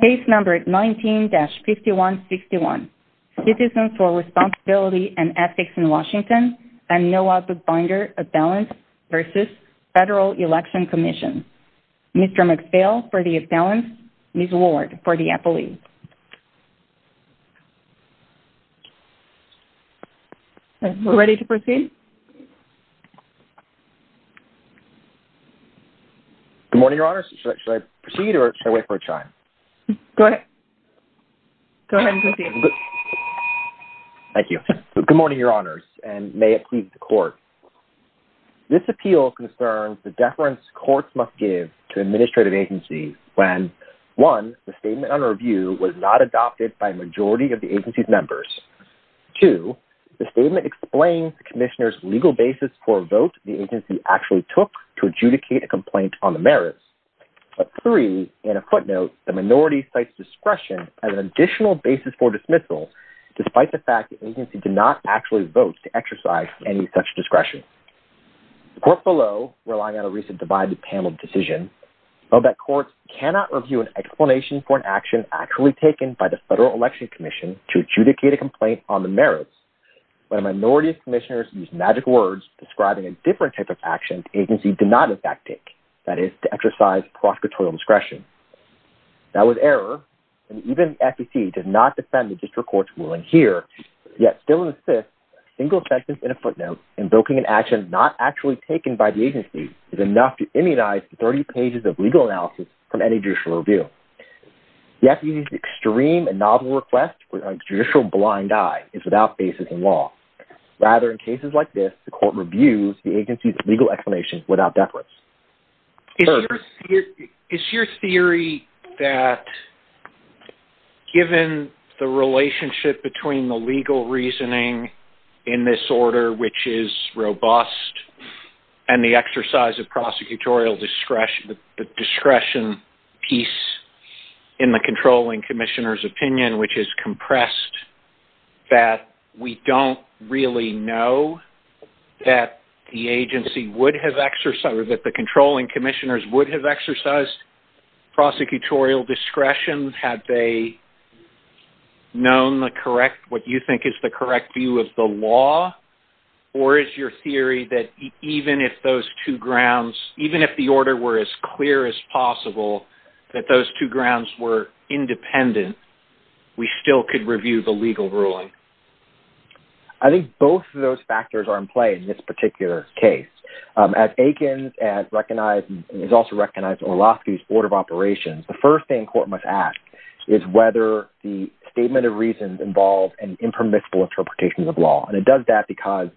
Case number 19-5161, Citizens for Responsibility and Ethics in Washington and Noah Bookbinder of Balance v. Federal Election Commission. Mr. McPhail for the balance, Ms. Ward for the appellee. We're ready to proceed. Good morning, Your Honors. Should I proceed or should I wait for a chime? Go ahead. Go ahead and proceed. Thank you. Good morning, Your Honors, and may it please the court. This appeal concerns the deference courts must give to administrative agencies when, one, the statement under review was not adopted by a majority of the agency's members. Two, the statement explains the commissioner's legal basis for a vote the agency actually took to adjudicate a complaint on the merits. But three, in a footnote, the minority cites discretion as an additional basis for dismissal, despite the fact the agency did not actually vote to exercise any such discretion. The court below, relying on a recent divided panel decision, felt that for an action actually taken by the Federal Election Commission to adjudicate a complaint on the merits, when a minority of commissioners used magic words describing a different type of action the agency did not in fact take, that is, to exercise prosecutorial discretion. That was error, and even the FEC does not defend the district court's ruling here, yet still insists that a single sentence in a footnote invoking an action not actually from any judicial review. The FEC's extreme and novel request for a judicial blind eye is without basis in law. Rather, in cases like this, the court reviews the agency's legal explanation without deference. Is your theory that, given the relationship between the legal reasoning in this order, which is robust, and the exercise of prosecutorial discretion piece in the controlling commissioner's opinion, which is compressed, that we don't really know that the agency would have exercised or that the controlling commissioners would have exercised prosecutorial discretion? Had they known what you think is the correct view of the law? Or is your theory that even if those two grounds, even if the order were as clear as possible, that those two grounds were independent, we still could review the legal ruling? I think both of those factors are in play in this particular case. As Aikens has also recognized Orlowski's order of operations, the first thing court must ask is whether the statement of reasons involves an impermissible interpretation of law. And it does that because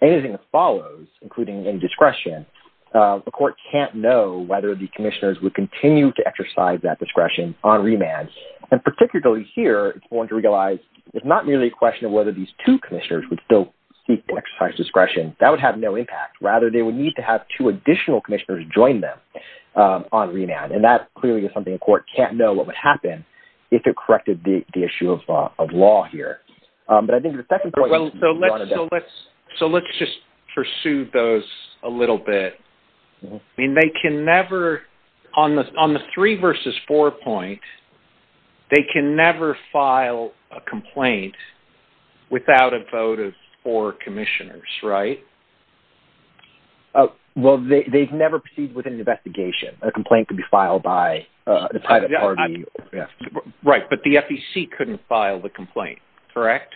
anything that follows, including any discretion, the court can't know whether the commissioners would continue to exercise that discretion on remand. And particularly here, it's not merely a question of whether these two commissioners would still seek to exercise discretion. That would have no impact. Rather, they would need to have two additional commissioners join them on remand. And that clearly is something a court can't know what would happen if it corrected the issue of law here. But I think the second point… So let's just pursue those a little bit. I mean, they can never, on the three versus four point, they can never file a complaint without a vote of four commissioners, right? Well, they've never proceeded with an investigation. A complaint could be filed by the private party. Right, but the FEC couldn't file the complaint, correct?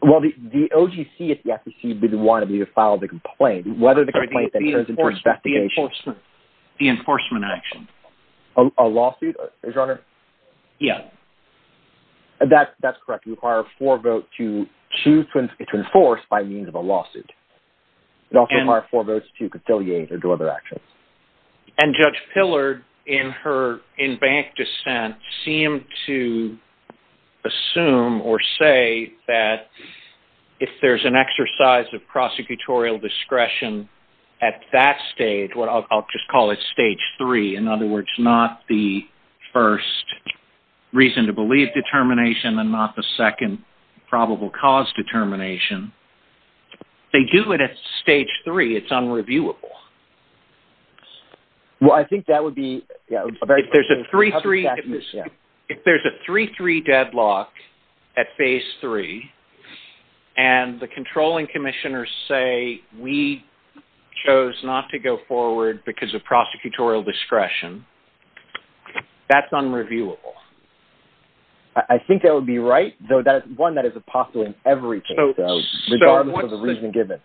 Well, the OGC at the FEC didn't want to file the complaint. Whether the complaint then turns into an investigation… The enforcement action. A lawsuit, Your Honor? Yeah. That's correct. It would require a four vote to choose to enforce by means of a lawsuit. It would also require four votes to conciliate or do other actions. And Judge Pillard, in her in-bank dissent, seemed to assume or say that if there's an exercise of prosecutorial discretion at that stage, I'll just call it stage three, in other words, not the first reason to believe determination and not the second probable cause determination, they do it at stage three. It's unreviewable. Well, I think that would be… If there's a 3-3 deadlock at phase three and the controlling commissioners say, we chose not to go forward because of prosecutorial discretion, that's unreviewable. I think that would be right, though that's one that is possible in every case, regardless of the reason given.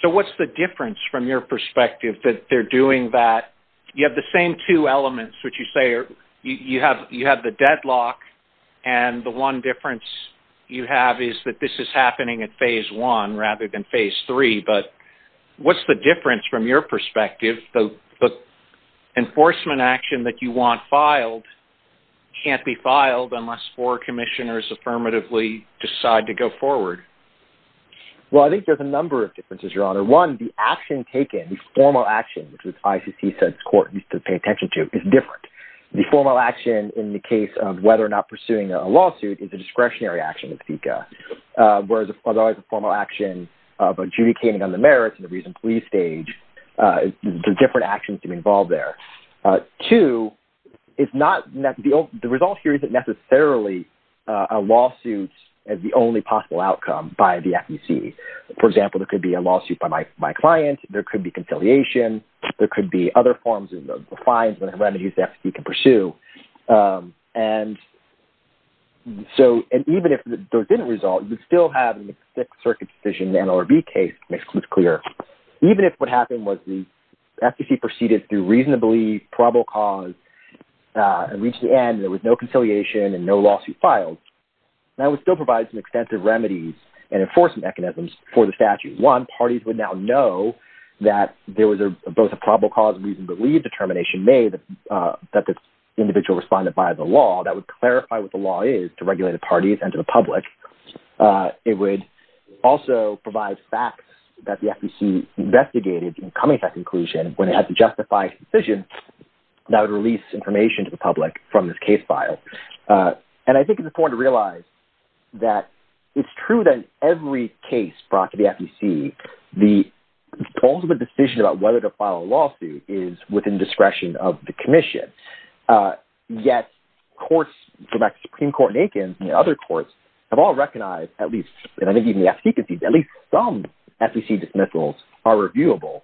So what's the difference from your perspective that they're doing that? You have the same two elements, which you say you have the deadlock and the one difference you have is that this is happening at phase one rather than phase three, but what's the difference from your perspective? The enforcement action that you want filed can't be filed unless four commissioners affirmatively decide to go forward. Well, I think there's a number of differences, Your Honor. One, the action taken, the formal action, which the ICC says court needs to pay attention to, is different. The formal action in the case of whether or not pursuing a lawsuit is a discretionary action of FICA, whereas a formal action of adjudicating on the merits and the reason please stage, there's different actions involved there. Two, the result here isn't necessarily a lawsuit as the only possible outcome by the FEC. For example, there could be a lawsuit by my client, there could be conciliation, there could be other forms of fines and remedies the FEC can pursue. And even if those didn't result, you'd still have the Sixth Circuit decision, the NLRB case, to make things clear. Even if what happened was the FEC proceeded through reasonably probable cause and reached the end, there was no conciliation and no lawsuit filed, that would still provide some extensive remedies and enforcement mechanisms for the statute. One, parties would now know that there was both a probable cause, reason to believe determination made that the individual responded by the law that would clarify what the law is to regulated parties and to the public. It would also provide facts that the FEC investigated in coming to that conclusion when it had to justify its decision that would release information to the public from this case file. And I think it's important to realize that it's true that in every case brought to the FEC, the ultimate decision about whether to file a lawsuit is within discretion of the commission. Yet courts, Supreme Court and Aikens and other courts, have all recognized at least, and I think even the FEC can see, at least some FEC dismissals are reviewable.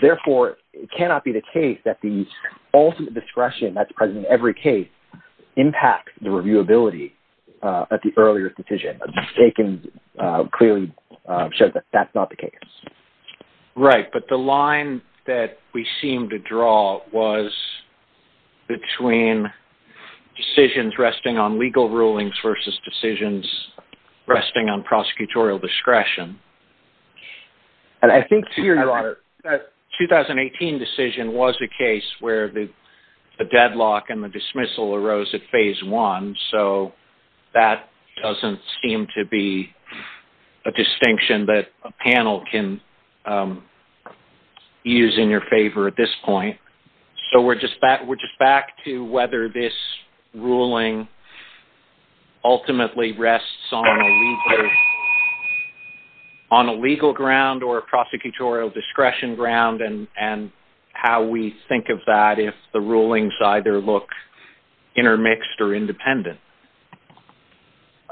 Therefore, it cannot be the case that the ultimate discretion that's present in every case impacts the reviewability at the earlier decision. Aikens clearly showed that that's not the case. Right, but the line that we seem to draw was between decisions resting on legal rulings versus decisions resting on prosecutorial discretion. And I think here you are. The 2018 decision was a case where the deadlock and the dismissal arose at phase one, so that doesn't seem to be a distinction that a panel can use in your favor at this point. So we're just back to whether this ruling ultimately rests on a legal ground or a prosecutorial discretion ground and how we think of that if the rulings either look intermixed or independent.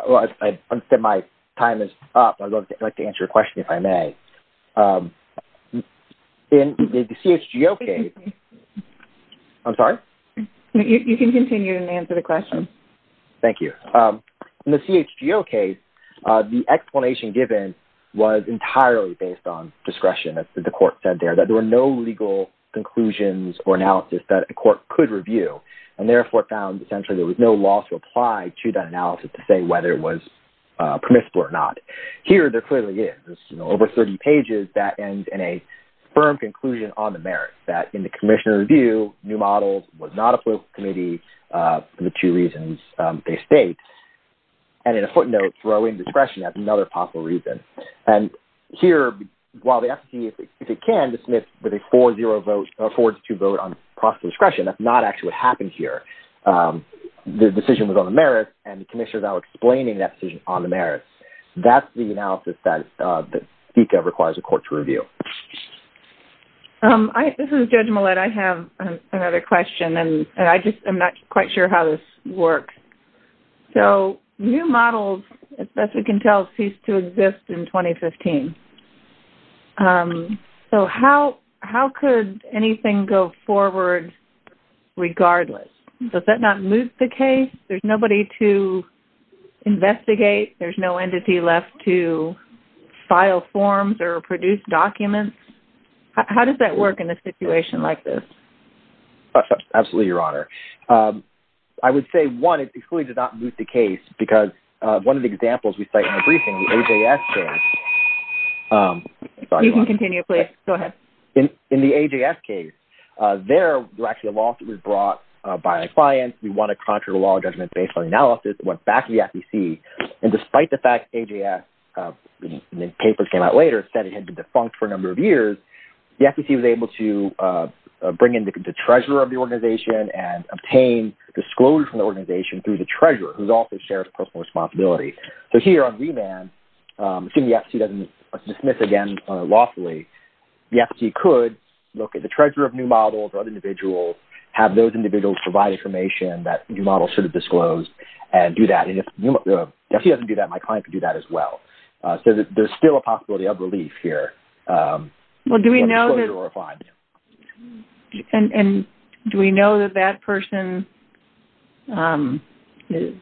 Well, I understand my time is up. I'd like to answer your question, if I may. In the CHGO case... I'm sorry? You can continue and answer the question. Thank you. In the CHGO case, the explanation given was entirely based on discretion, as the court said there, that there were no legal conclusions or analysis that a court could review and therefore found essentially there was no law to apply to that analysis to say whether it was permissible or not. Here there clearly is. There's over 30 pages that end in a firm conclusion on the merits, that in the commissioner review, new models was not applicable to the committee for the two reasons they state. And in a footnote, throwing discretion as another possible reason. And here, while the FTC, if it can, dismiss with a 4-0 vote, a 4-2 vote on prosecutorial discretion, that's not actually what happened here. The decision was on the merits, and the commissioners are now explaining that decision on the merits. That's the analysis that FICA requires a court to review. This is Judge Millett. I have another question, and I just am not quite sure how this works. So new models, as best we can tell, ceased to exist in 2015. So how could anything go forward regardless? Does that not move the case? There's nobody to investigate. There's no entity left to file forms or produce documents. How does that work in a situation like this? Absolutely, Your Honor. I would say, one, it's excluded to not move the case, because one of the examples we cite in the briefing, the AJS case. You can continue, please. Go ahead. In the AJS case, there was actually a lawsuit brought by a client. We want a contrary law judgment based on analysis. It went back to the FTC. And despite the fact AJS, when the papers came out later, said it had been defunct for a number of years, the FTC was able to bring in the treasurer of the organization and obtain disclosure from the organization through the treasurer, who also shares the personal responsibility. So here on remand, assuming the FTC doesn't dismiss again lawfully, the FTC could look at the treasurer of new models or other individuals, have those individuals provide information that new models should have disclosed, and do that. And if the FTC doesn't do that, my client could do that as well. So there's still a possibility of relief here. Well, do we know that that person is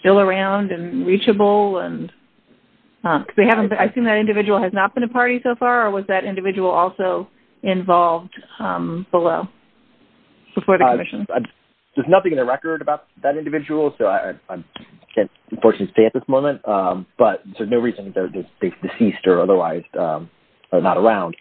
still around and reachable? I assume that individual has not been to parties so far, or was that individual also involved below, before the commission? There's nothing in the record about that individual, so I can't unfortunately say at this moment. But there's no reason that they've ceased or otherwise are not around.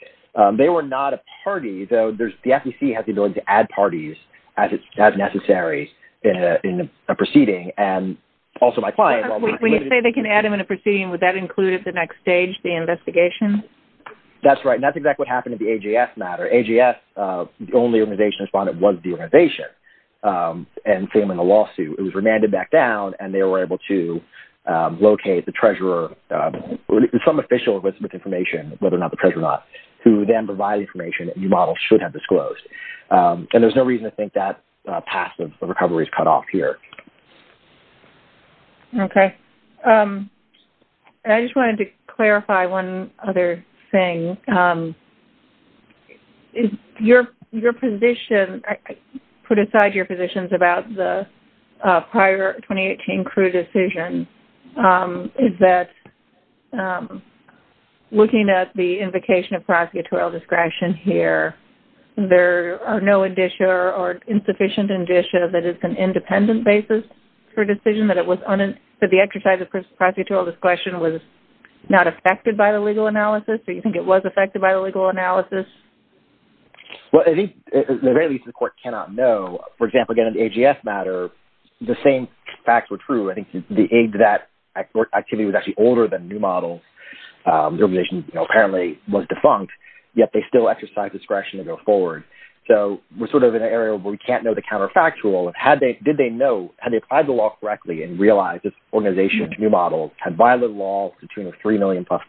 They were not a party, though the FTC has the ability to add parties as necessary in a proceeding, and also my client. When you say they can add them in a proceeding, would that include at the next stage the investigation? That's right, and that's exactly what happened at the AJS matter. AJS, the only organization that responded was the organization. And failing a lawsuit, it was remanded back down, and they were able to locate the treasurer, some official with information, whether or not the treasurer or not, who then provided information that new models should have disclosed. And there's no reason to think that passive recovery is cut off here. Okay. I just wanted to clarify one other thing. Your position, put aside your positions about the prior 2018 CRU decision, is that looking at the invocation of prosecutorial discretion here, there are no indicia or insufficient indicia that it's an independent basis for a decision, that the exercise of prosecutorial discretion was not affected by the legal analysis, or you think it was affected by the legal analysis? Well, I think, at the very least, the court cannot know. For example, again, in the AJS matter, the same facts were true. I think the aid to that activity was actually older than new models. The organization apparently was defunct, yet they still exercise discretion to go forward. So we're sort of in an area where we can't know the counterfactual. And did they know, had they applied the law correctly and realized this organization's new model had violated the law to the tune of $3 million-plus,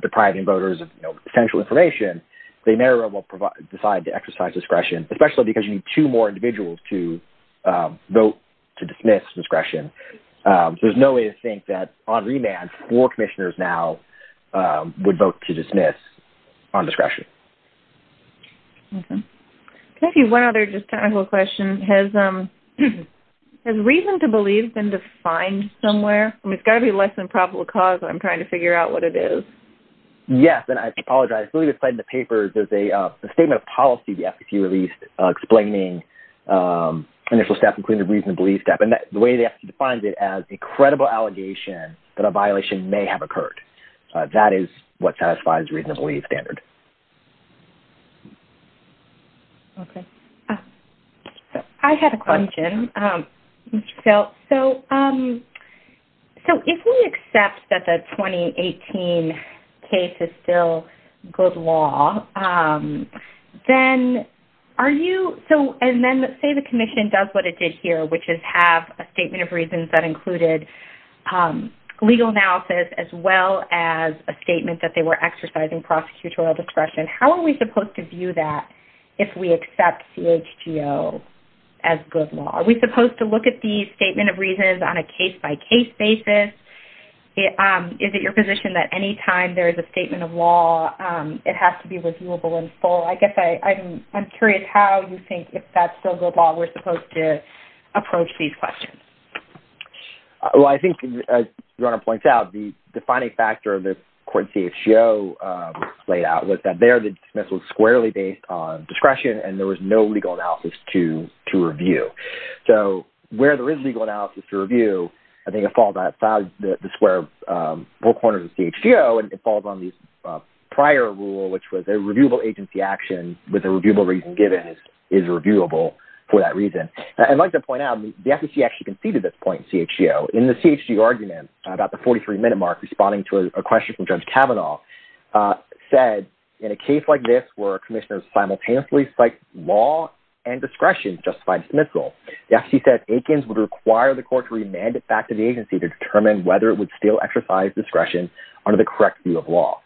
depriving voters of potential information, they may or may not decide to exercise discretion, especially because you need two more individuals to vote to dismiss discretion. So there's no way to think that on remand, four commissioners now would vote to dismiss on discretion. Okay. Can I ask you one other just technical question? Has reason to believe been defined somewhere? I mean, it's got to be less than probable cause, but I'm trying to figure out what it is. Yes, and I apologize. I believe it's said in the paper there's a statement of policy the FCC released explaining initial steps, including the reason to believe step, and the way the FCC defines it as a credible allegation that a violation may have occurred. That is what satisfies the reason to believe standard. Okay. I had a question, Mr. Phil. So if we accept that the 2018 case is still good law, then are you- and then let's say the commission does what it did here, which is have a statement of reasons that included legal analysis as well as a statement that they were exercising prosecutorial discretion, how are we supposed to view that if we accept CHGO as good law? Are we supposed to look at the statement of reasons on a case-by-case basis? Is it your position that any time there is a statement of law, it has to be reviewable in full? I guess I'm curious how you think if that's still good law we're supposed to approach these questions. Well, I think, as Rana points out, the defining factor of the court CHGO laid out was that there the dismissal was squarely based on discretion and there was no legal analysis to review. So where there is legal analysis to review, I think it falls outside the square, both corners of the CHGO, and it falls on the prior rule, which was a reviewable agency action with a reviewable reason given is reviewable for that reason. I'd like to point out, the FEC actually conceded this point in CHGO. In the CHGO argument, about the 43-minute mark, responding to a question from Judge Kavanaugh, said, in a case like this where commissioners simultaneously cite law and discretion to justify dismissal, the FEC said Akins would require the court to remand it back to the agency to determine whether it would still exercise discretion under the correct view of law.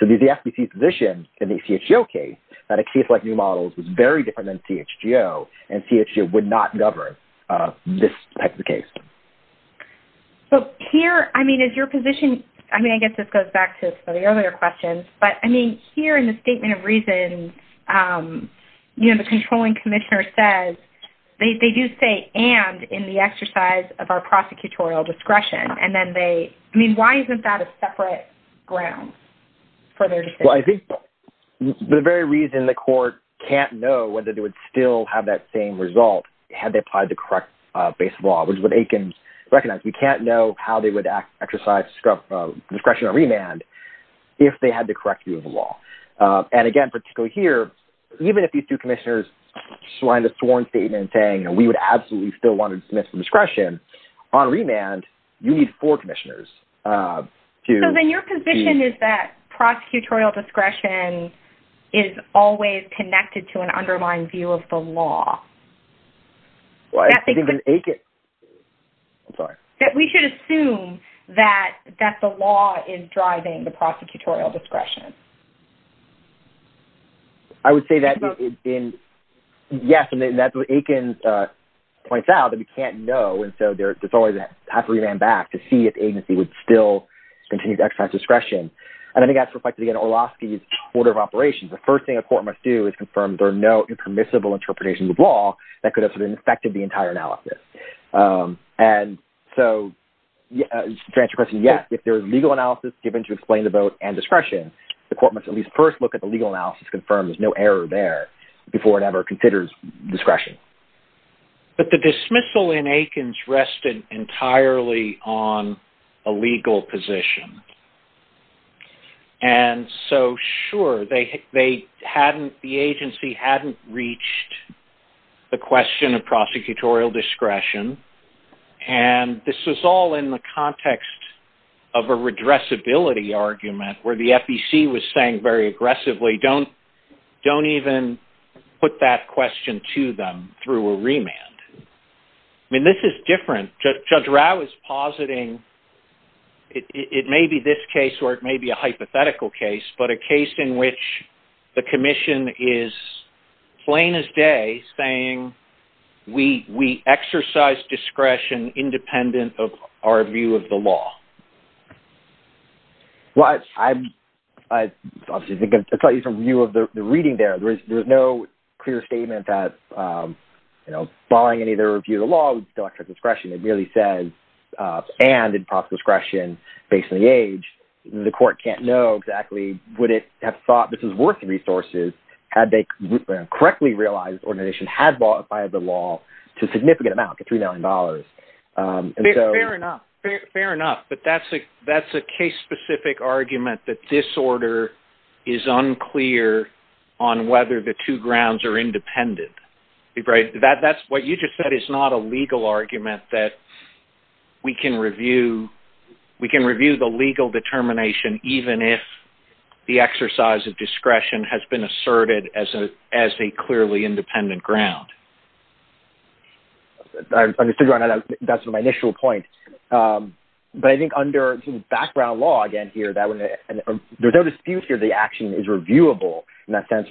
So the FEC's position in the CHGO case that a case like New Models was very different than CHGO and CHGO would not govern this type of case. So here, I mean, is your position, I mean, I guess this goes back to the earlier question, but, I mean, here in the statement of reasons, you know, the controlling commissioner says they do say and in the exercise of our prosecutorial discretion, and then they, I mean, why isn't that a separate ground for their decision? Well, I think the very reason the court can't know whether they would still have that same result had they applied the correct base of law, which is what Akins recognized. We can't know how they would exercise discretion or remand if they had the correct view of the law. And again, particularly here, even if these two commissioners signed a sworn statement saying, you know, we would absolutely still want to dismiss the discretion, on remand, you need four commissioners. So then your position is that prosecutorial discretion is always connected to an underlying view of the law. That we should assume that the law is driving the prosecutorial discretion. I would say that, yes, and that's what Akins points out, that we can't know, and so there's always that type of remand back to see if the agency would still continue to exercise discretion. And I think that's reflected again in Orlowski's order of operations. The first thing a court must do is confirm there are no impermissible interpretations of law that could have sort of infected the entire analysis. And so, to answer your question, yes, if there is legal analysis given to explain the vote and discretion, the court must at least first look at the legal analysis to confirm there's no error there before it ever considers discretion. But the dismissal in Akins rested entirely on a legal position. And so, sure, they hadn't, the agency hadn't reached the question of prosecutorial discretion. And this was all in the context of a redressability argument where the FEC was saying very aggressively, don't even put that question to them through a remand. I mean, this is different. Judge Rau is positing it may be this case or it may be a hypothetical case, but a case in which the commission is plain as day saying we exercise discretion independent of our view of the law. Well, I'm obviously going to tell you from view of the reading there, there's no clear statement that, you know, following any of the review of the law, we still exercise discretion. It merely says, and in proper discretion, based on the age, the court can't know exactly, would it have thought this is worth the resources had they correctly realized this organization had violated the law to a significant amount, to $3 million. Fair enough. Fair enough. But that's a case-specific argument that this order is unclear on whether the two grounds are independent. That's what you just said is not a legal argument that we can review the legal determination even if the exercise of discretion has been asserted as a clearly independent ground. That's my initial point. But I think under background law, again, here, there's no dispute here the action is reviewable. In that sense,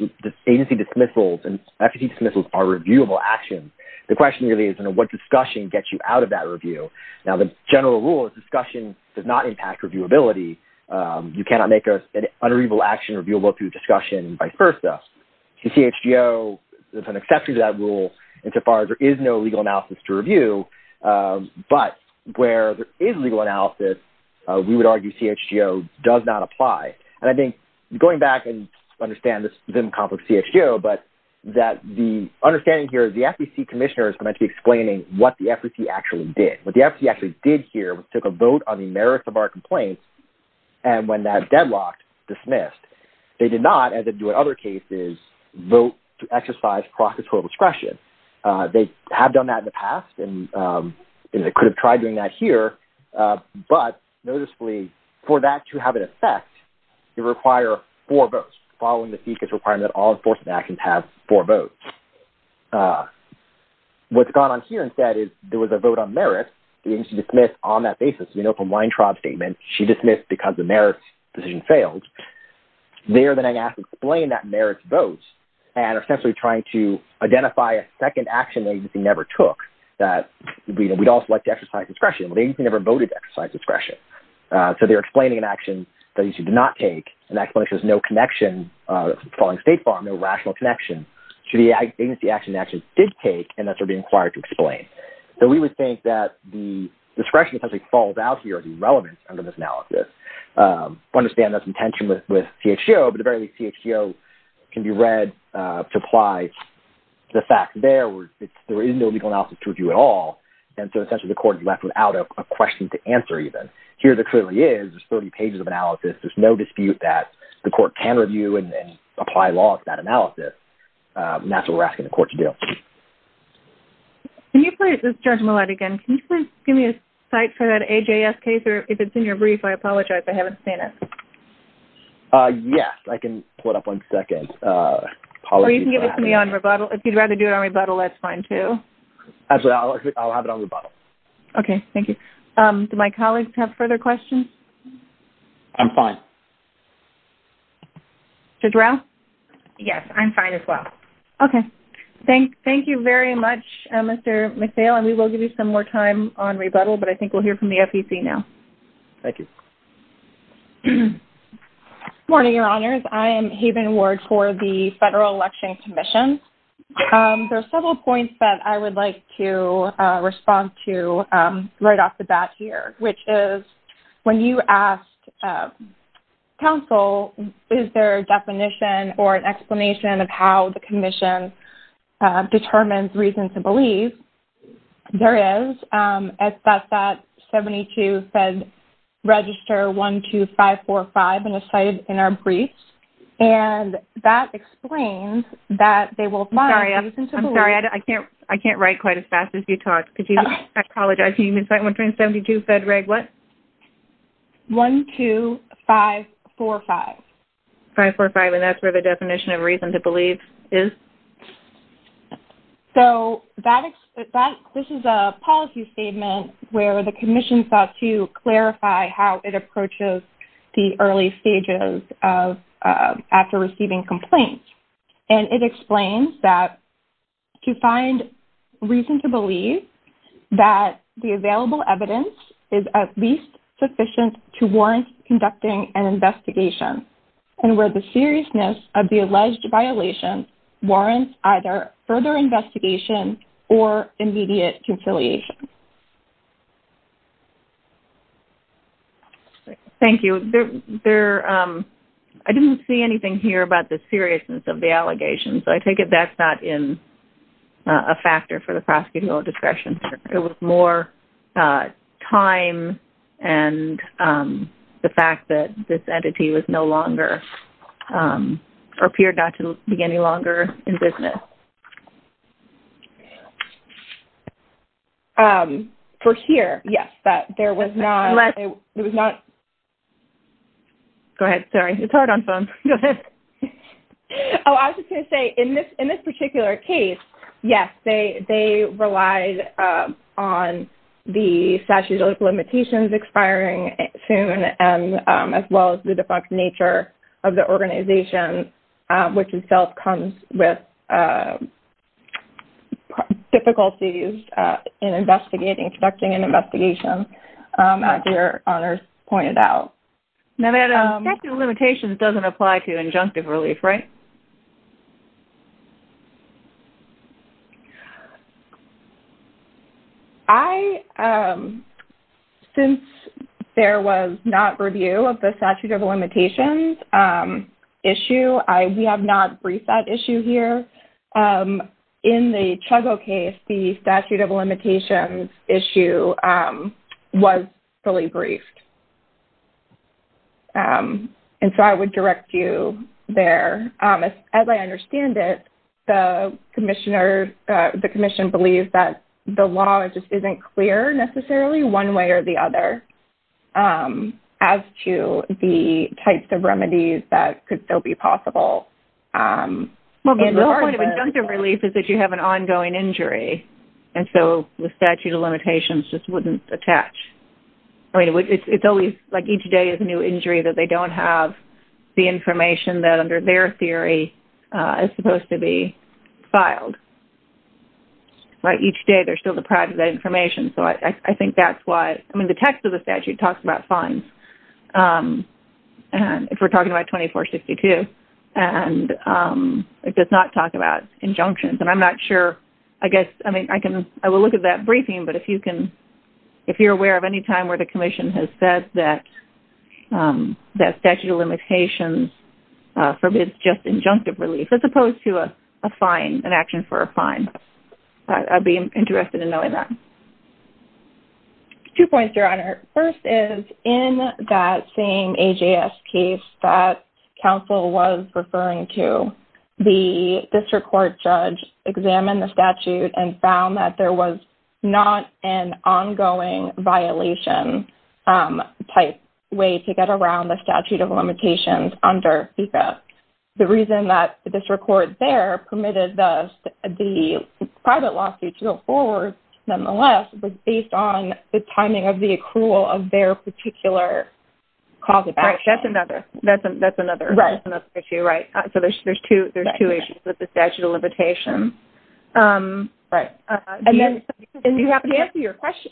agency dismissals and efficacy dismissals are reviewable actions. The question really is, you know, what discussion gets you out of that review? Now, the general rule is discussion does not impact reviewability. You cannot make an unreviewable action reviewable through discussion and vice versa. The CHGO is an exception to that rule insofar as there is no legal analysis to review. But where there is legal analysis, we would argue CHGO does not apply. And I think going back and understand this is in conflict with CHGO, but that the understanding here is the FEC Commissioner is going to be explaining what the FEC actually did. What the FEC actually did here was took a vote on the merits of our complaints, and when that deadlocked, dismissed. They did not, as they do in other cases, vote to exercise prosecutorial discretion. They have done that in the past, and they could have tried doing that here. But noticeably, for that to have an effect, you require four votes, following the FECA's requirement that all enforcement actions have four votes. What's gone on here instead is there was a vote on merits. The agency dismissed on that basis. You know from Weintraub's statement, she dismissed because the merits decision failed. There, then, I have to explain that merits vote, and essentially trying to identify a second action the agency never took, that we'd also like to exercise discretion. The agency never voted to exercise discretion. So they're explaining an action that agency did not take, and that explanation has no connection following State Farm, no rational connection, to the agency action they actually did take, and that they're being required to explain. So we would think that the discretion essentially falls out here, the relevance under this analysis. I understand there's some tension with CHGO, but at the very least, CHGO can be read to apply the facts there. There is no legal analysis to review at all, and so essentially the court is left without a question to answer even. Here there clearly is. There's 30 pages of analysis. There's no dispute that the court can review and apply law to that analysis, and that's what we're asking the court to do. Can you please, this is Judge Millett again, can you please give me a cite for that AJS case, or if it's in your brief, I apologize, I haven't seen it. Yes, I can pull it up one second. Or you can give it to me on rebuttal. If you'd rather do it on rebuttal, that's fine too. Actually, I'll have it on rebuttal. Okay, thank you. Do my colleagues have further questions? I'm fine. Judge Rao? Yes, I'm fine as well. Okay. Thank you very much, Mr. McPhail, and we will give you some more time on rebuttal, but I think we'll hear from the FEC now. Thank you. Good morning, Your Honors. I am Haven Ward for the Federal Election Commission. There are several points that I would like to respond to right off the bat here, which is when you asked counsel, is there a definition or an explanation of how the commission determines reasons to believe? There is. It's got that 72-FED-REGISTER-12545 and it's cited in our briefs, and that explains that they will find reasons to believe... Sorry, I'm sorry. I can't write quite as fast as you talk. I apologize. Can you recite 172-FED-REG-what? 12545. 545, and that's where the definition of reasons to believe is? So this is a policy statement where the commission sought to clarify how it approaches the early stages after receiving complaints, and it explains that to find reason to believe that the available evidence is at least sufficient to warrant conducting an investigation and where the seriousness of the alleged violation warrants either further investigation or immediate conciliation. Thank you. I didn't see anything here about the seriousness of the allegations. I take it that's not a factor for the prosecutorial discretion. There was more time and the fact that this entity was no longer... appeared not to be any longer in business. For here, yes, that there was not... Go ahead. Sorry, it's hard on phones. Go ahead. Oh, I was just going to say, in this particular case, yes, they relied on the statute of limitations expiring soon as well as the defunct nature of the organization, which itself comes with difficulties in investigating, conducting an investigation, as your honors pointed out. Now that statute of limitations doesn't apply to injunctive relief, right? I... Since there was not review of the statute of limitations issue, we have not briefed that issue here. In the Chugo case, the statute of limitations issue was fully briefed. And so I would direct you there. As I understand it, the commissioner... The commission believes that the law just isn't clear necessarily, one way or the other, as to the types of remedies that could still be possible. Well, the point of injunctive relief is that you have an ongoing injury, and so the statute of limitations just wouldn't attach. I mean, it's always, like, each day is a new injury, that they don't have the information that under their theory is supposed to be filed. Each day, they're still deprived of that information. So I think that's why... I mean, the text of the statute talks about fines, if we're talking about 2462, and it does not talk about injunctions. And I'm not sure... I guess, I mean, I will look at that briefing, but if you're aware of any time where the commission has said that statute of limitations forbids just injunctive relief, as opposed to a fine, an action for a fine, I'd be interested in knowing that. Two points, Your Honor. First is, in that same AJS case that counsel was referring to, the district court judge examined the statute and found that there was not an ongoing violation type way to get around the statute of limitations under FICA. The reason that the district court there permitted the private lawsuit to go forward, nonetheless, was based on the timing of the accrual of their particular cause of action. Right, that's another issue, right? So there's two issues with the statute of limitations. Right. And then... You haven't answered your question.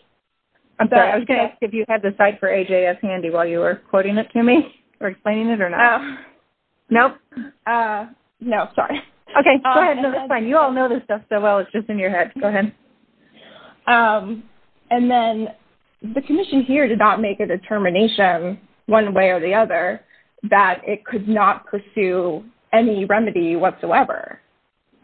I'm sorry. I was going to ask if you had the slide for AJS handy while you were quoting it to me or explaining it or not. Nope. No, sorry. Okay, go ahead. It's fine. You all know this stuff so well, it's just in your head. Go ahead. And then, the commission here did not make a determination, one way or the other, that it could not pursue any remedy whatsoever.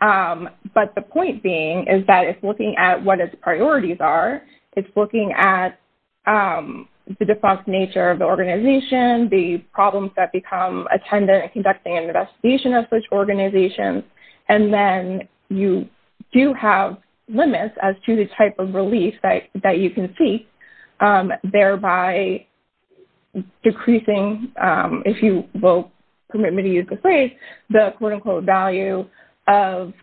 But the point being is that, if looking at what its priorities are, it's looking at the defunct nature of the organization, the problems that become attendant in conducting an investigation of such organizations, and then you do have limits as to the type of relief that you can seek, thereby decreasing, if you will permit me to use this phrase, the quote-unquote value of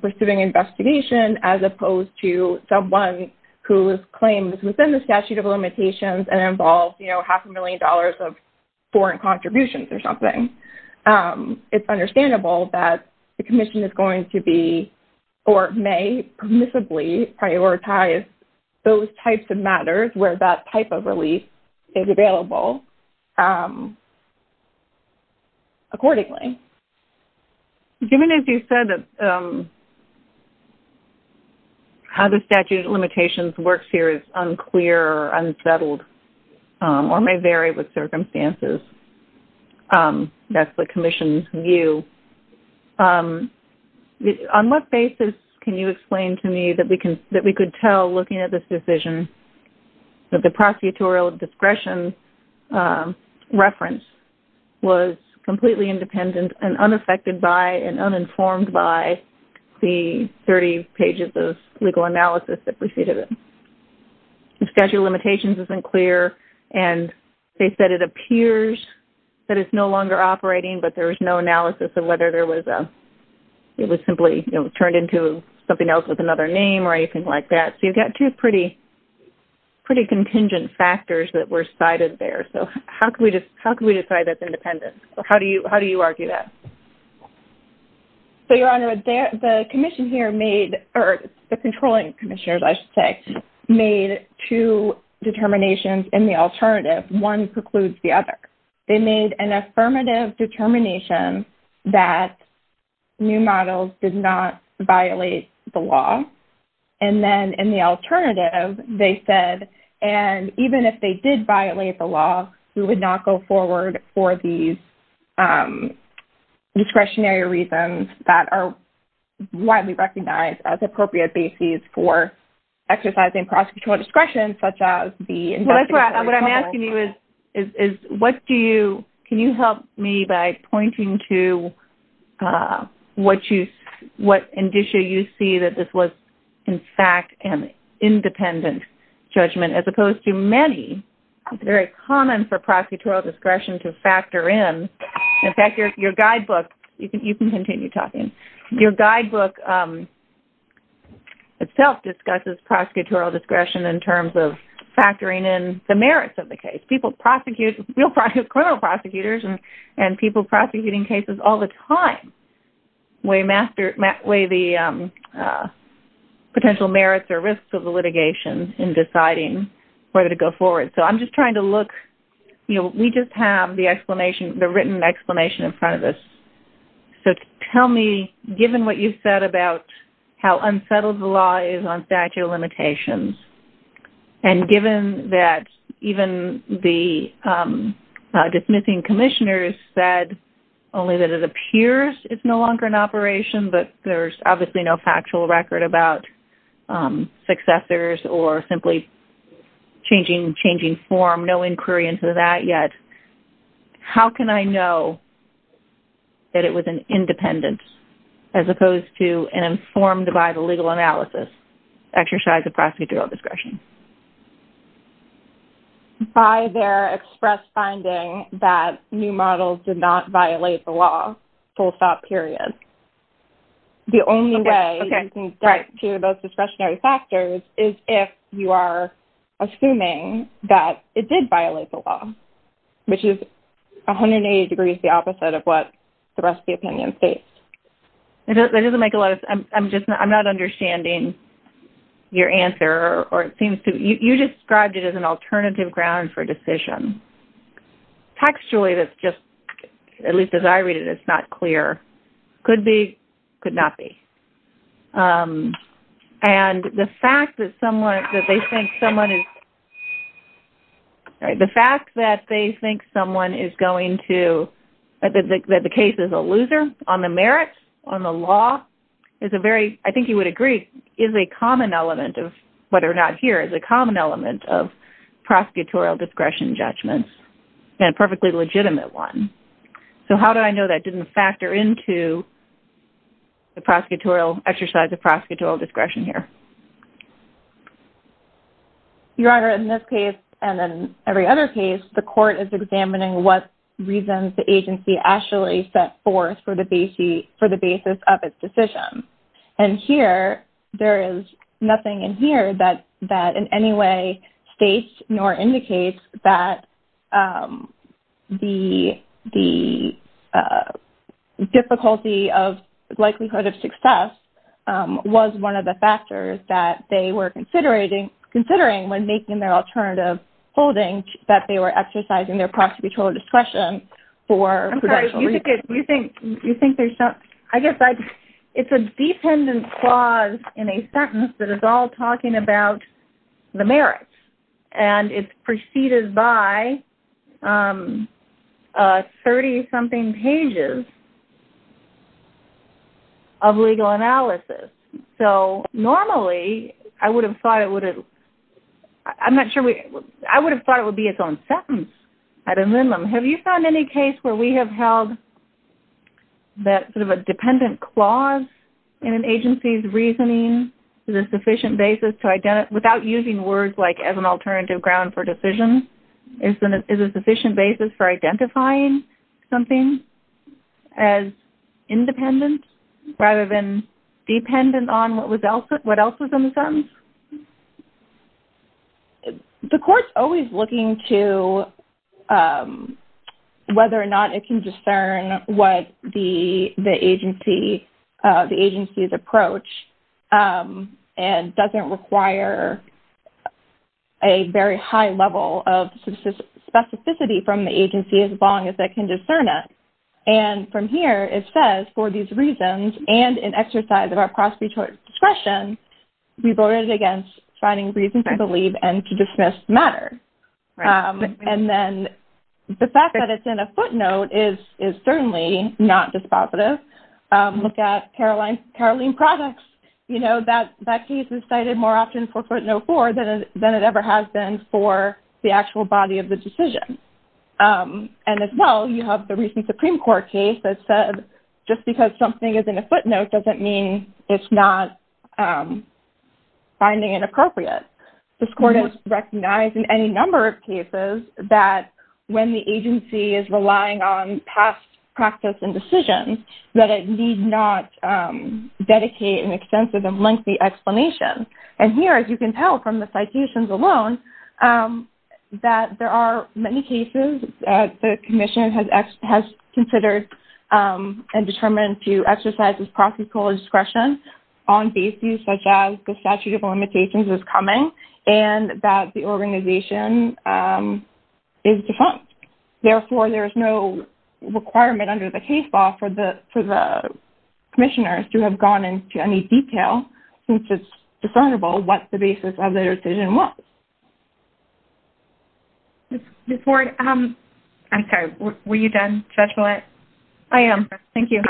pursuing investigation as opposed to someone whose claim is within the statute of limitations and involves half a million dollars of foreign contributions or something. It's understandable that the commission is going to be or may permissibly prioritize those types of matters where that type of relief is available accordingly. Given, as you said, how the statute of limitations works here is unclear or unsettled, or may vary with circumstances, that's the commission's view. On what basis can you explain to me that we could tell, looking at this decision, that the prosecutorial discretion reference was completely independent and unaffected by and uninformed by the 30 pages of legal analysis that preceded it? The statute of limitations isn't clear, and they said it appears that it's no longer operating, but there was no analysis of whether it was simply turned into something else with another name or anything like that. So you've got two pretty contingent factors that were cited there. So how can we decide that's independent? How do you argue that? Your Honor, the commission here made, or the controlling commissioners, I should say, made two determinations in the alternative. One precludes the other. They made an affirmative determination that new models did not violate the law. And then in the alternative, they said, and even if they did violate the law, we would not go forward for these discretionary reasons that are widely recognized as appropriate bases for exercising prosecutorial discretion, such as the investigative... What I'm asking you is, can you help me by pointing to what indicia you see that this was, in fact, an independent judgment as opposed to many? It's very common for prosecutorial discretion to factor in. In fact, your guidebook... You can continue talking. Your guidebook itself discusses prosecutorial discretion in terms of factoring in the merits of the case. People prosecute, real criminal prosecutors and people prosecuting cases all the time and weigh the potential merits or risks of the litigation in deciding whether to go forward. So I'm just trying to look... We just have the written explanation in front of us. So tell me, given what you've said about how unsettled the law is on statute of limitations and given that even the dismissing commissioners said only that it appears it's no longer in operation but there's obviously no factual record about successors or simply changing form, no inquiry into that yet, how can I know that it was an independence as opposed to an informed by the legal analysis exercise of prosecutorial discretion? By their express finding that new models did not violate the law, full stop, period. The only way you can get to those discretionary factors is if you are assuming that it did violate the law, which is 180 degrees the opposite of what the rest of the opinion states. That doesn't make a lot of sense. I'm just not... I'm not understanding your answer or it seems to... You described it as an alternative ground for decision. Textually, that's just... At least as I read it, it's not clear. Could be, could not be. And the fact that someone... That they think someone is... The fact that they think someone is going to... That the case is a loser on the merits, on the law, is a very... I think you would agree, is a common element of... Whether or not here is a common element of prosecutorial discretion judgments and a perfectly legitimate one. So how do I know that didn't factor into the prosecutorial exercise of prosecutorial discretion here? Your Honour, in this case and in every other case, the court is examining what reasons the agency actually set forth for the basis of its decision. And here, there is nothing in here that in any way states nor indicates that the difficulty of likelihood of success was one of the factors that they were considering when making their alternative holding that they were exercising their prosecutorial discretion for prudential reasons. I'm sorry, you think there's some... I guess it's a dependent clause in a sentence that is all talking about the merits. And it's preceded by 30-something pages of legal analysis. So normally, I would have thought it would have... I'm not sure we... I would have thought it would be its own sentence at a minimum. Have you found any case where we have held that sort of a dependent clause in an agency's reasoning is a sufficient basis to identify... without using words like as an alternative ground for decision, is a sufficient basis for identifying something as independent rather than dependent on what else was in the sentence? The court's always looking to whether or not it can discern what the agency's approach and doesn't require a very high level of specificity from the agency as long as they can discern it. And from here, it says, for these reasons and in exercise of our prosecutorial discretion, we voted against finding reasons to believe and to dismiss matter. And then the fact that it's in a footnote is certainly not dispositive. Look at Caroline Products. That case is cited more often for footnote four than it ever has been for the actual body of the decision. And as well, you have the recent Supreme Court case that said just because something is in a footnote doesn't mean it's not finding it appropriate. This court has recognized in any number of cases that when the agency is relying on past practice and decisions, that it need not dedicate an extensive and lengthy explanation. And here, as you can tell from the citations alone, that there are many cases that the commission has considered and determined to exercise its prosecutorial discretion on bases such as the statute of limitations is coming and that the organization is defunct. Therefore, there is no requirement under the case law for the commissioners to have gone into any detail since it's discernible what the basis of their decision was. Ms. Ward, I'm sorry. Were you done, Judge Millett? I am. Thank you.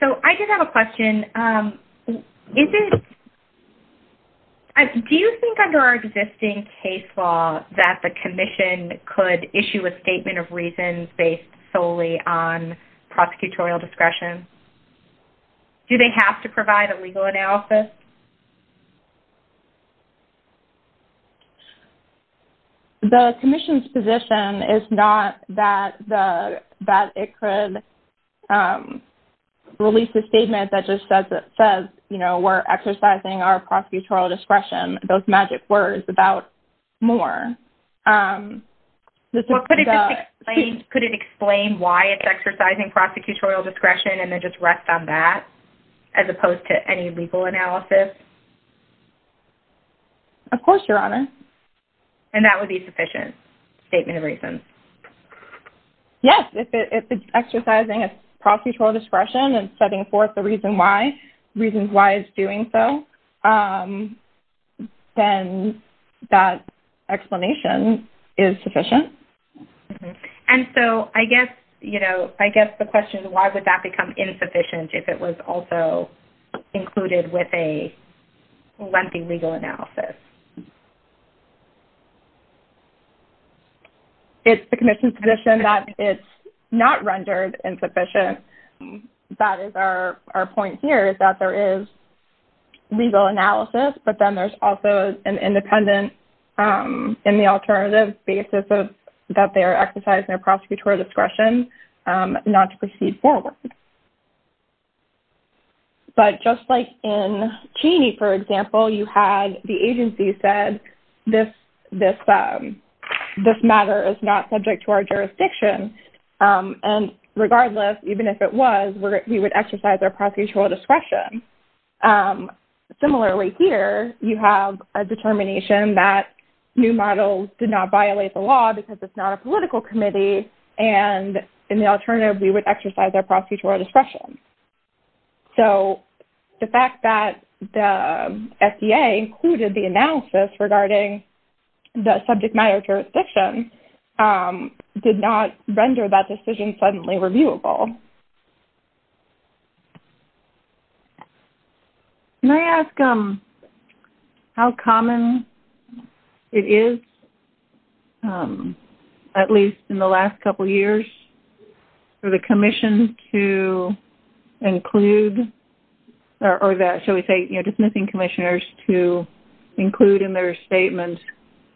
So I did have a question. Do you think under our existing case law that the commission could issue a statement of reasons based solely on prosecutorial discretion? Do they have to provide a legal analysis? The commission's position is not that it could release a statement that just says we're exercising our prosecutorial discretion, those magic words about more. Could it explain why it's exercising prosecutorial discretion and then just rest on that as opposed to any legal analysis? Of course, Your Honor. And that would be sufficient statement of reasons? Yes, if it's exercising its prosecutorial discretion and setting forth the reasons why it's doing so, then that explanation is sufficient. And so I guess the question is why would that become insufficient if it was also included with a lengthy legal analysis? It's the commission's position that it's not rendered insufficient. That is our point here is that there is legal analysis, but then there's also an independent in the alternative basis that they are exercising their prosecutorial discretion not to proceed forward. But just like in Cheney, for example, you had the agency said this matter is not subject to our jurisdiction. And regardless, even if it was, we would exercise our prosecutorial discretion. Similarly here, you have a determination that new models did not violate the law because it's not a political committee and in the alternative we would exercise our prosecutorial discretion. So the fact that the FDA included the analysis regarding the subject matter jurisdiction did not render that decision suddenly reviewable. Thank you. Can I ask how common it is, at least in the last couple of years, for the commission to include or that, shall we say, dismissing commissioners to include in their statement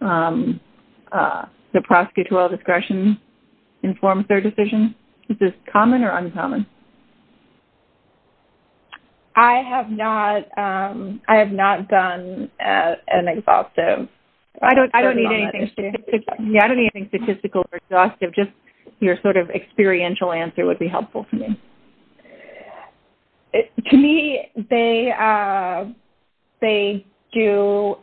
the prosecutorial discretion in form of their decision? Is this common or uncommon? I have not done an exhaustive. I don't need anything statistical or exhaustive. Just your sort of experiential answer would be helpful to me. To me, they do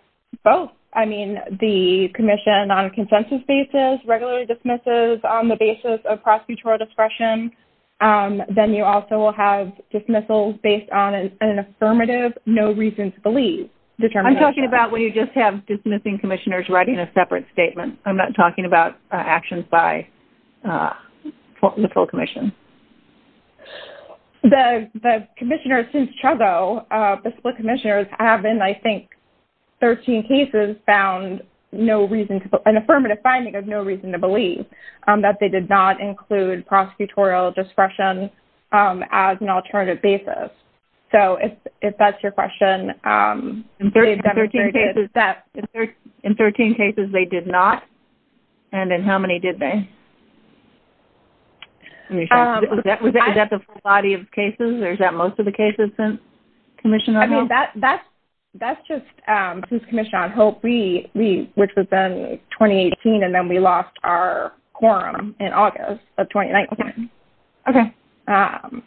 both. I mean, the commission on a consensus basis regularly dismisses on the basis of prosecutorial discretion. Then you also will have dismissals based on an affirmative, no reason to believe determination. I'm talking about when you just have dismissing commissioners writing a separate statement. I'm not talking about actions by the full commission. The commissioners since Trezo, the split commissioners, have in, I think, 13 cases, just found an affirmative finding of no reason to believe that they did not include prosecutorial discretion as an alternative basis. So if that's your question. In 13 cases, they did not. And in how many did they? Was that the full body of cases or is that most of the cases since commission on hope? I mean, that's just since commission on hope, which was then 2018, and then we lost our quorum in August of 2019. Okay.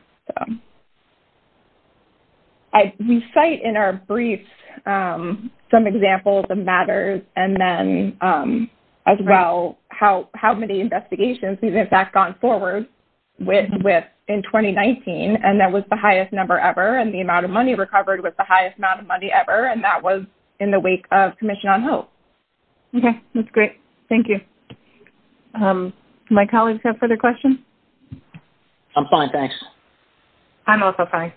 We cite in our briefs some examples of matters and then as well how many investigations we've in fact gone forward with in 2019, and that was the highest number ever, and the amount of money recovered was the highest amount of money ever, and that was in the week of commission on hope. Okay. That's great. Thank you. Do my colleagues have further questions? I'm fine, thanks. I'm also fine.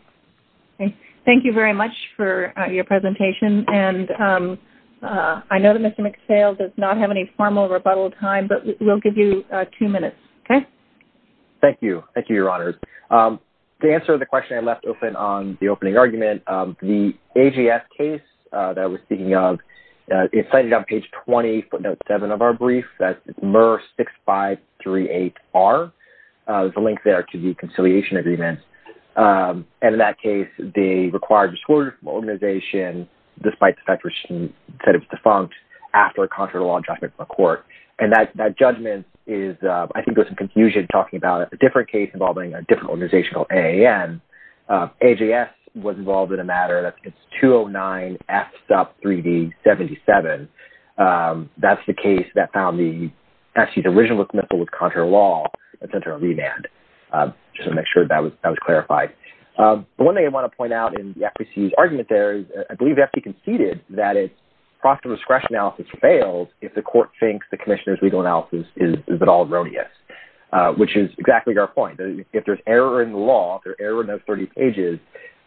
Thank you very much for your presentation, and I know that Mr. McPhail does not have any formal rebuttal time, but we'll give you two minutes, okay? Thank you. Thank you, Your Honors. To answer the question I left open on the opening argument, the AGS case that I was speaking of, it's cited on page 20, footnote 7 of our brief, that's MR6538R. There's a link there to the conciliation agreement, and in that case, they required a disorder from an organization despite the fact that it was defunct after a contrary law judgment from a court, and that judgment is, I think, there's some confusion talking about a different case involving a different organization called AAN. AGS was involved in a matter, that's 209F3D77. That's the case that found the, actually, the original missile with contrary law that sent her on remand, just to make sure that was clarified. The one thing I want to point out in the FPC's argument there is, I believe the FPC conceded that its process of discretion analysis fails if the court thinks the commissioner's legal analysis is at all erroneous, which is exactly our point. If there's error in the law, if there's error in those 30 pages,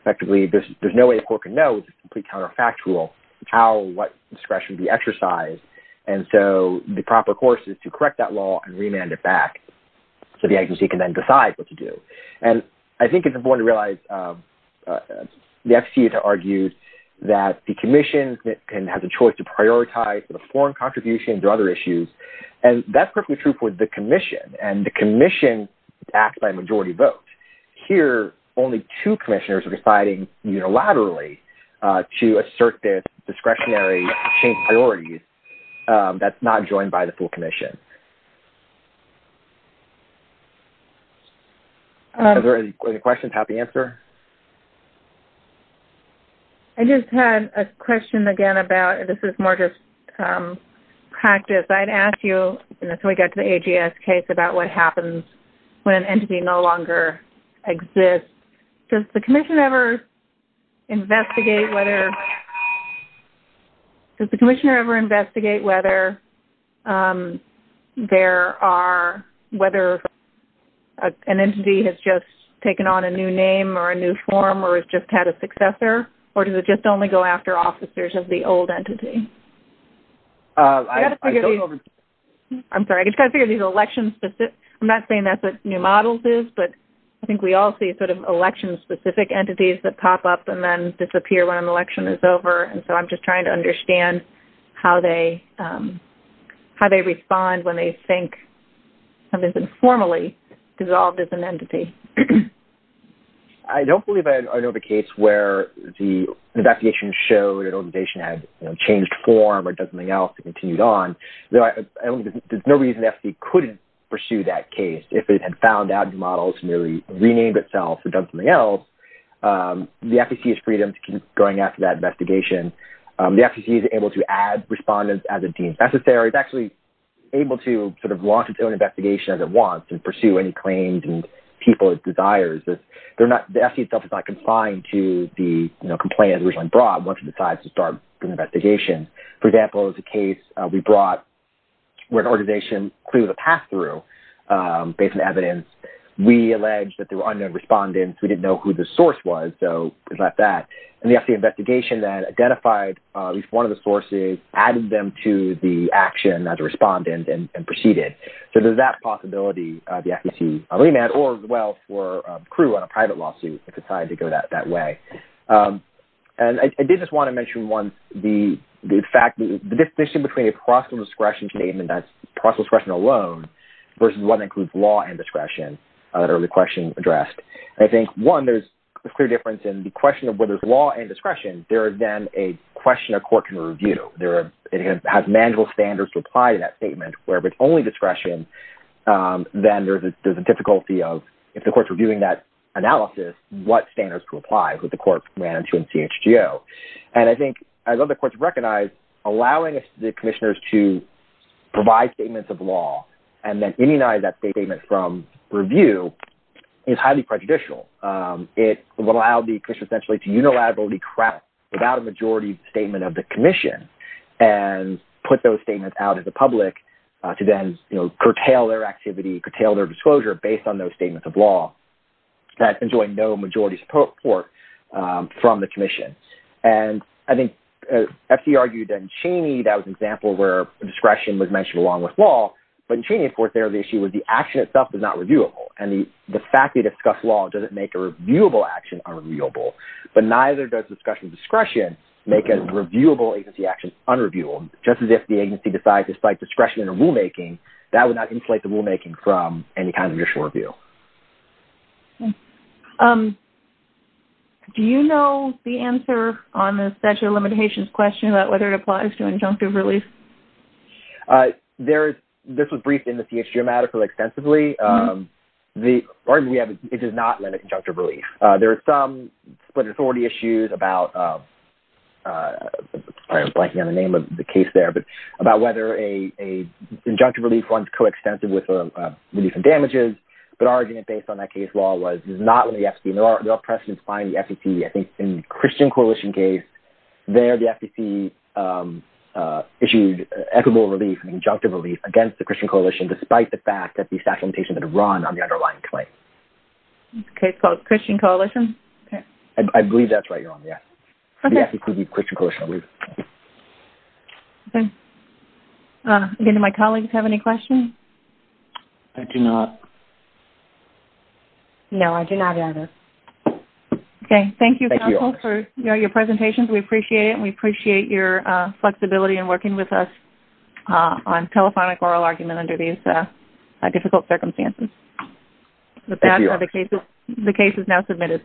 effectively, there's no way a court can know it's a complete counterfactual, how, what discretion would be exercised, and so the proper course is to correct that law and remand it back so the agency can then decide what to do. And I think it's important to realize the FPC has argued that the commission can have the choice to prioritize the foreign contributions or other issues, and that's perfectly true for the commission, and the commission acts by majority vote. Here, only two commissioners are deciding unilaterally to assert their discretionary change priorities that's not joined by the full commission. Are there any questions? Happy to answer. I just had a question again about, this is more just practice. I'd ask you, until we get to the AGS case, about what happens when an entity no longer exists. Does the commission ever investigate whether... Does the commissioner ever investigate whether there are, whether an entity has just taken on a new name or a new form or has just had a successor, or does it just only go after officers of the old entity? I don't know... I'm sorry, I just got to figure these election-specific... I'm not saying that's what New Models is, but I think we all see sort of election-specific entities that pop up and then disappear when an election is over, and so I'm just trying to understand how they respond when they think something's been formally dissolved as an entity. I don't believe I know of a case where the investigation showed an organization had changed form or done something else and continued on. There's no reason the FCC couldn't pursue that case if it had found out New Models merely renamed itself or done something else. The FCC has freedom to keep going after that investigation. The FCC is able to add respondents as it deems necessary. It's actually able to sort of launch its own investigation as it wants and pursue any claims and people it desires. The FCC itself is not confined to the complaint originally brought once it decides to start an investigation. For example, there's a case we brought where an organization clearly has a pass-through based on evidence. We allege that there were unknown respondents. We didn't know who the source was, so it's like that. And the FCC investigation that identified at least one of the sources added them to the action as a respondent and proceeded. So there's that possibility the FCC could be remanded or as well for a crew on a private lawsuit if it decided to go that way. I did just want to mention once the fact that the distinction between a process discretion statement that's process discretion alone versus one that includes law and discretion that earlier question addressed. I think one, there's a clear difference in the question of whether it's law and discretion. There is then a question a court can review. It has manual standards to apply to that statement where if it's only discretion, then there's a difficulty of if the court's reviewing that analysis, what standards to apply that the court ran into in CHGO. And I think as other courts recognize, allowing the commissioners to provide statements of law and then immunize that statement from review is highly prejudicial. It would allow the commission essentially to unilaterally craft without a majority statement of the commission and put those statements out at the commission to curtail their activity, curtail their disclosure based on those statements of law that enjoy no majority support from the commission. And I think FC argued in Cheney that was an example where discretion was mentioned along with law, but in Cheney of course there the issue was the action itself is not reviewable and the fact they discuss law doesn't make a reviewable action unreviewable but neither does discussion of discretion make a reviewable agency action unreviewable. Just as if the agency decides to cite discretion in a rulemaking that would not inflate the rulemaking from any kind of judicial review. Do you know the answer on the statute of limitations question about whether it applies to injunctive release? This was briefed in the CHGO matter extensively. The argument we have is it does not limit injunctive release. There are some split authority issues about I'm blanking on the name of the case there, but about whether an injunctive release runs coextensive with a release of damages but our argument based on that case law was it does not limit the FTC. There are precedents behind the FTC. I think in the Christian Coalition case, there the FTC issued equitable relief and injunctive relief against the Christian Coalition despite the fact that the statute of limitations had run on the underlying claim. It's a case called Christian Coalition? I believe that's right, you're on the FTC. It could be Christian Coalition. Do any of my colleagues have any questions? I do not. No, I do not either. Okay, thank you for your presentations. We appreciate it and we appreciate your flexibility in working with us on telephonic oral argument under these difficult circumstances. Thank you. The case is now submitted.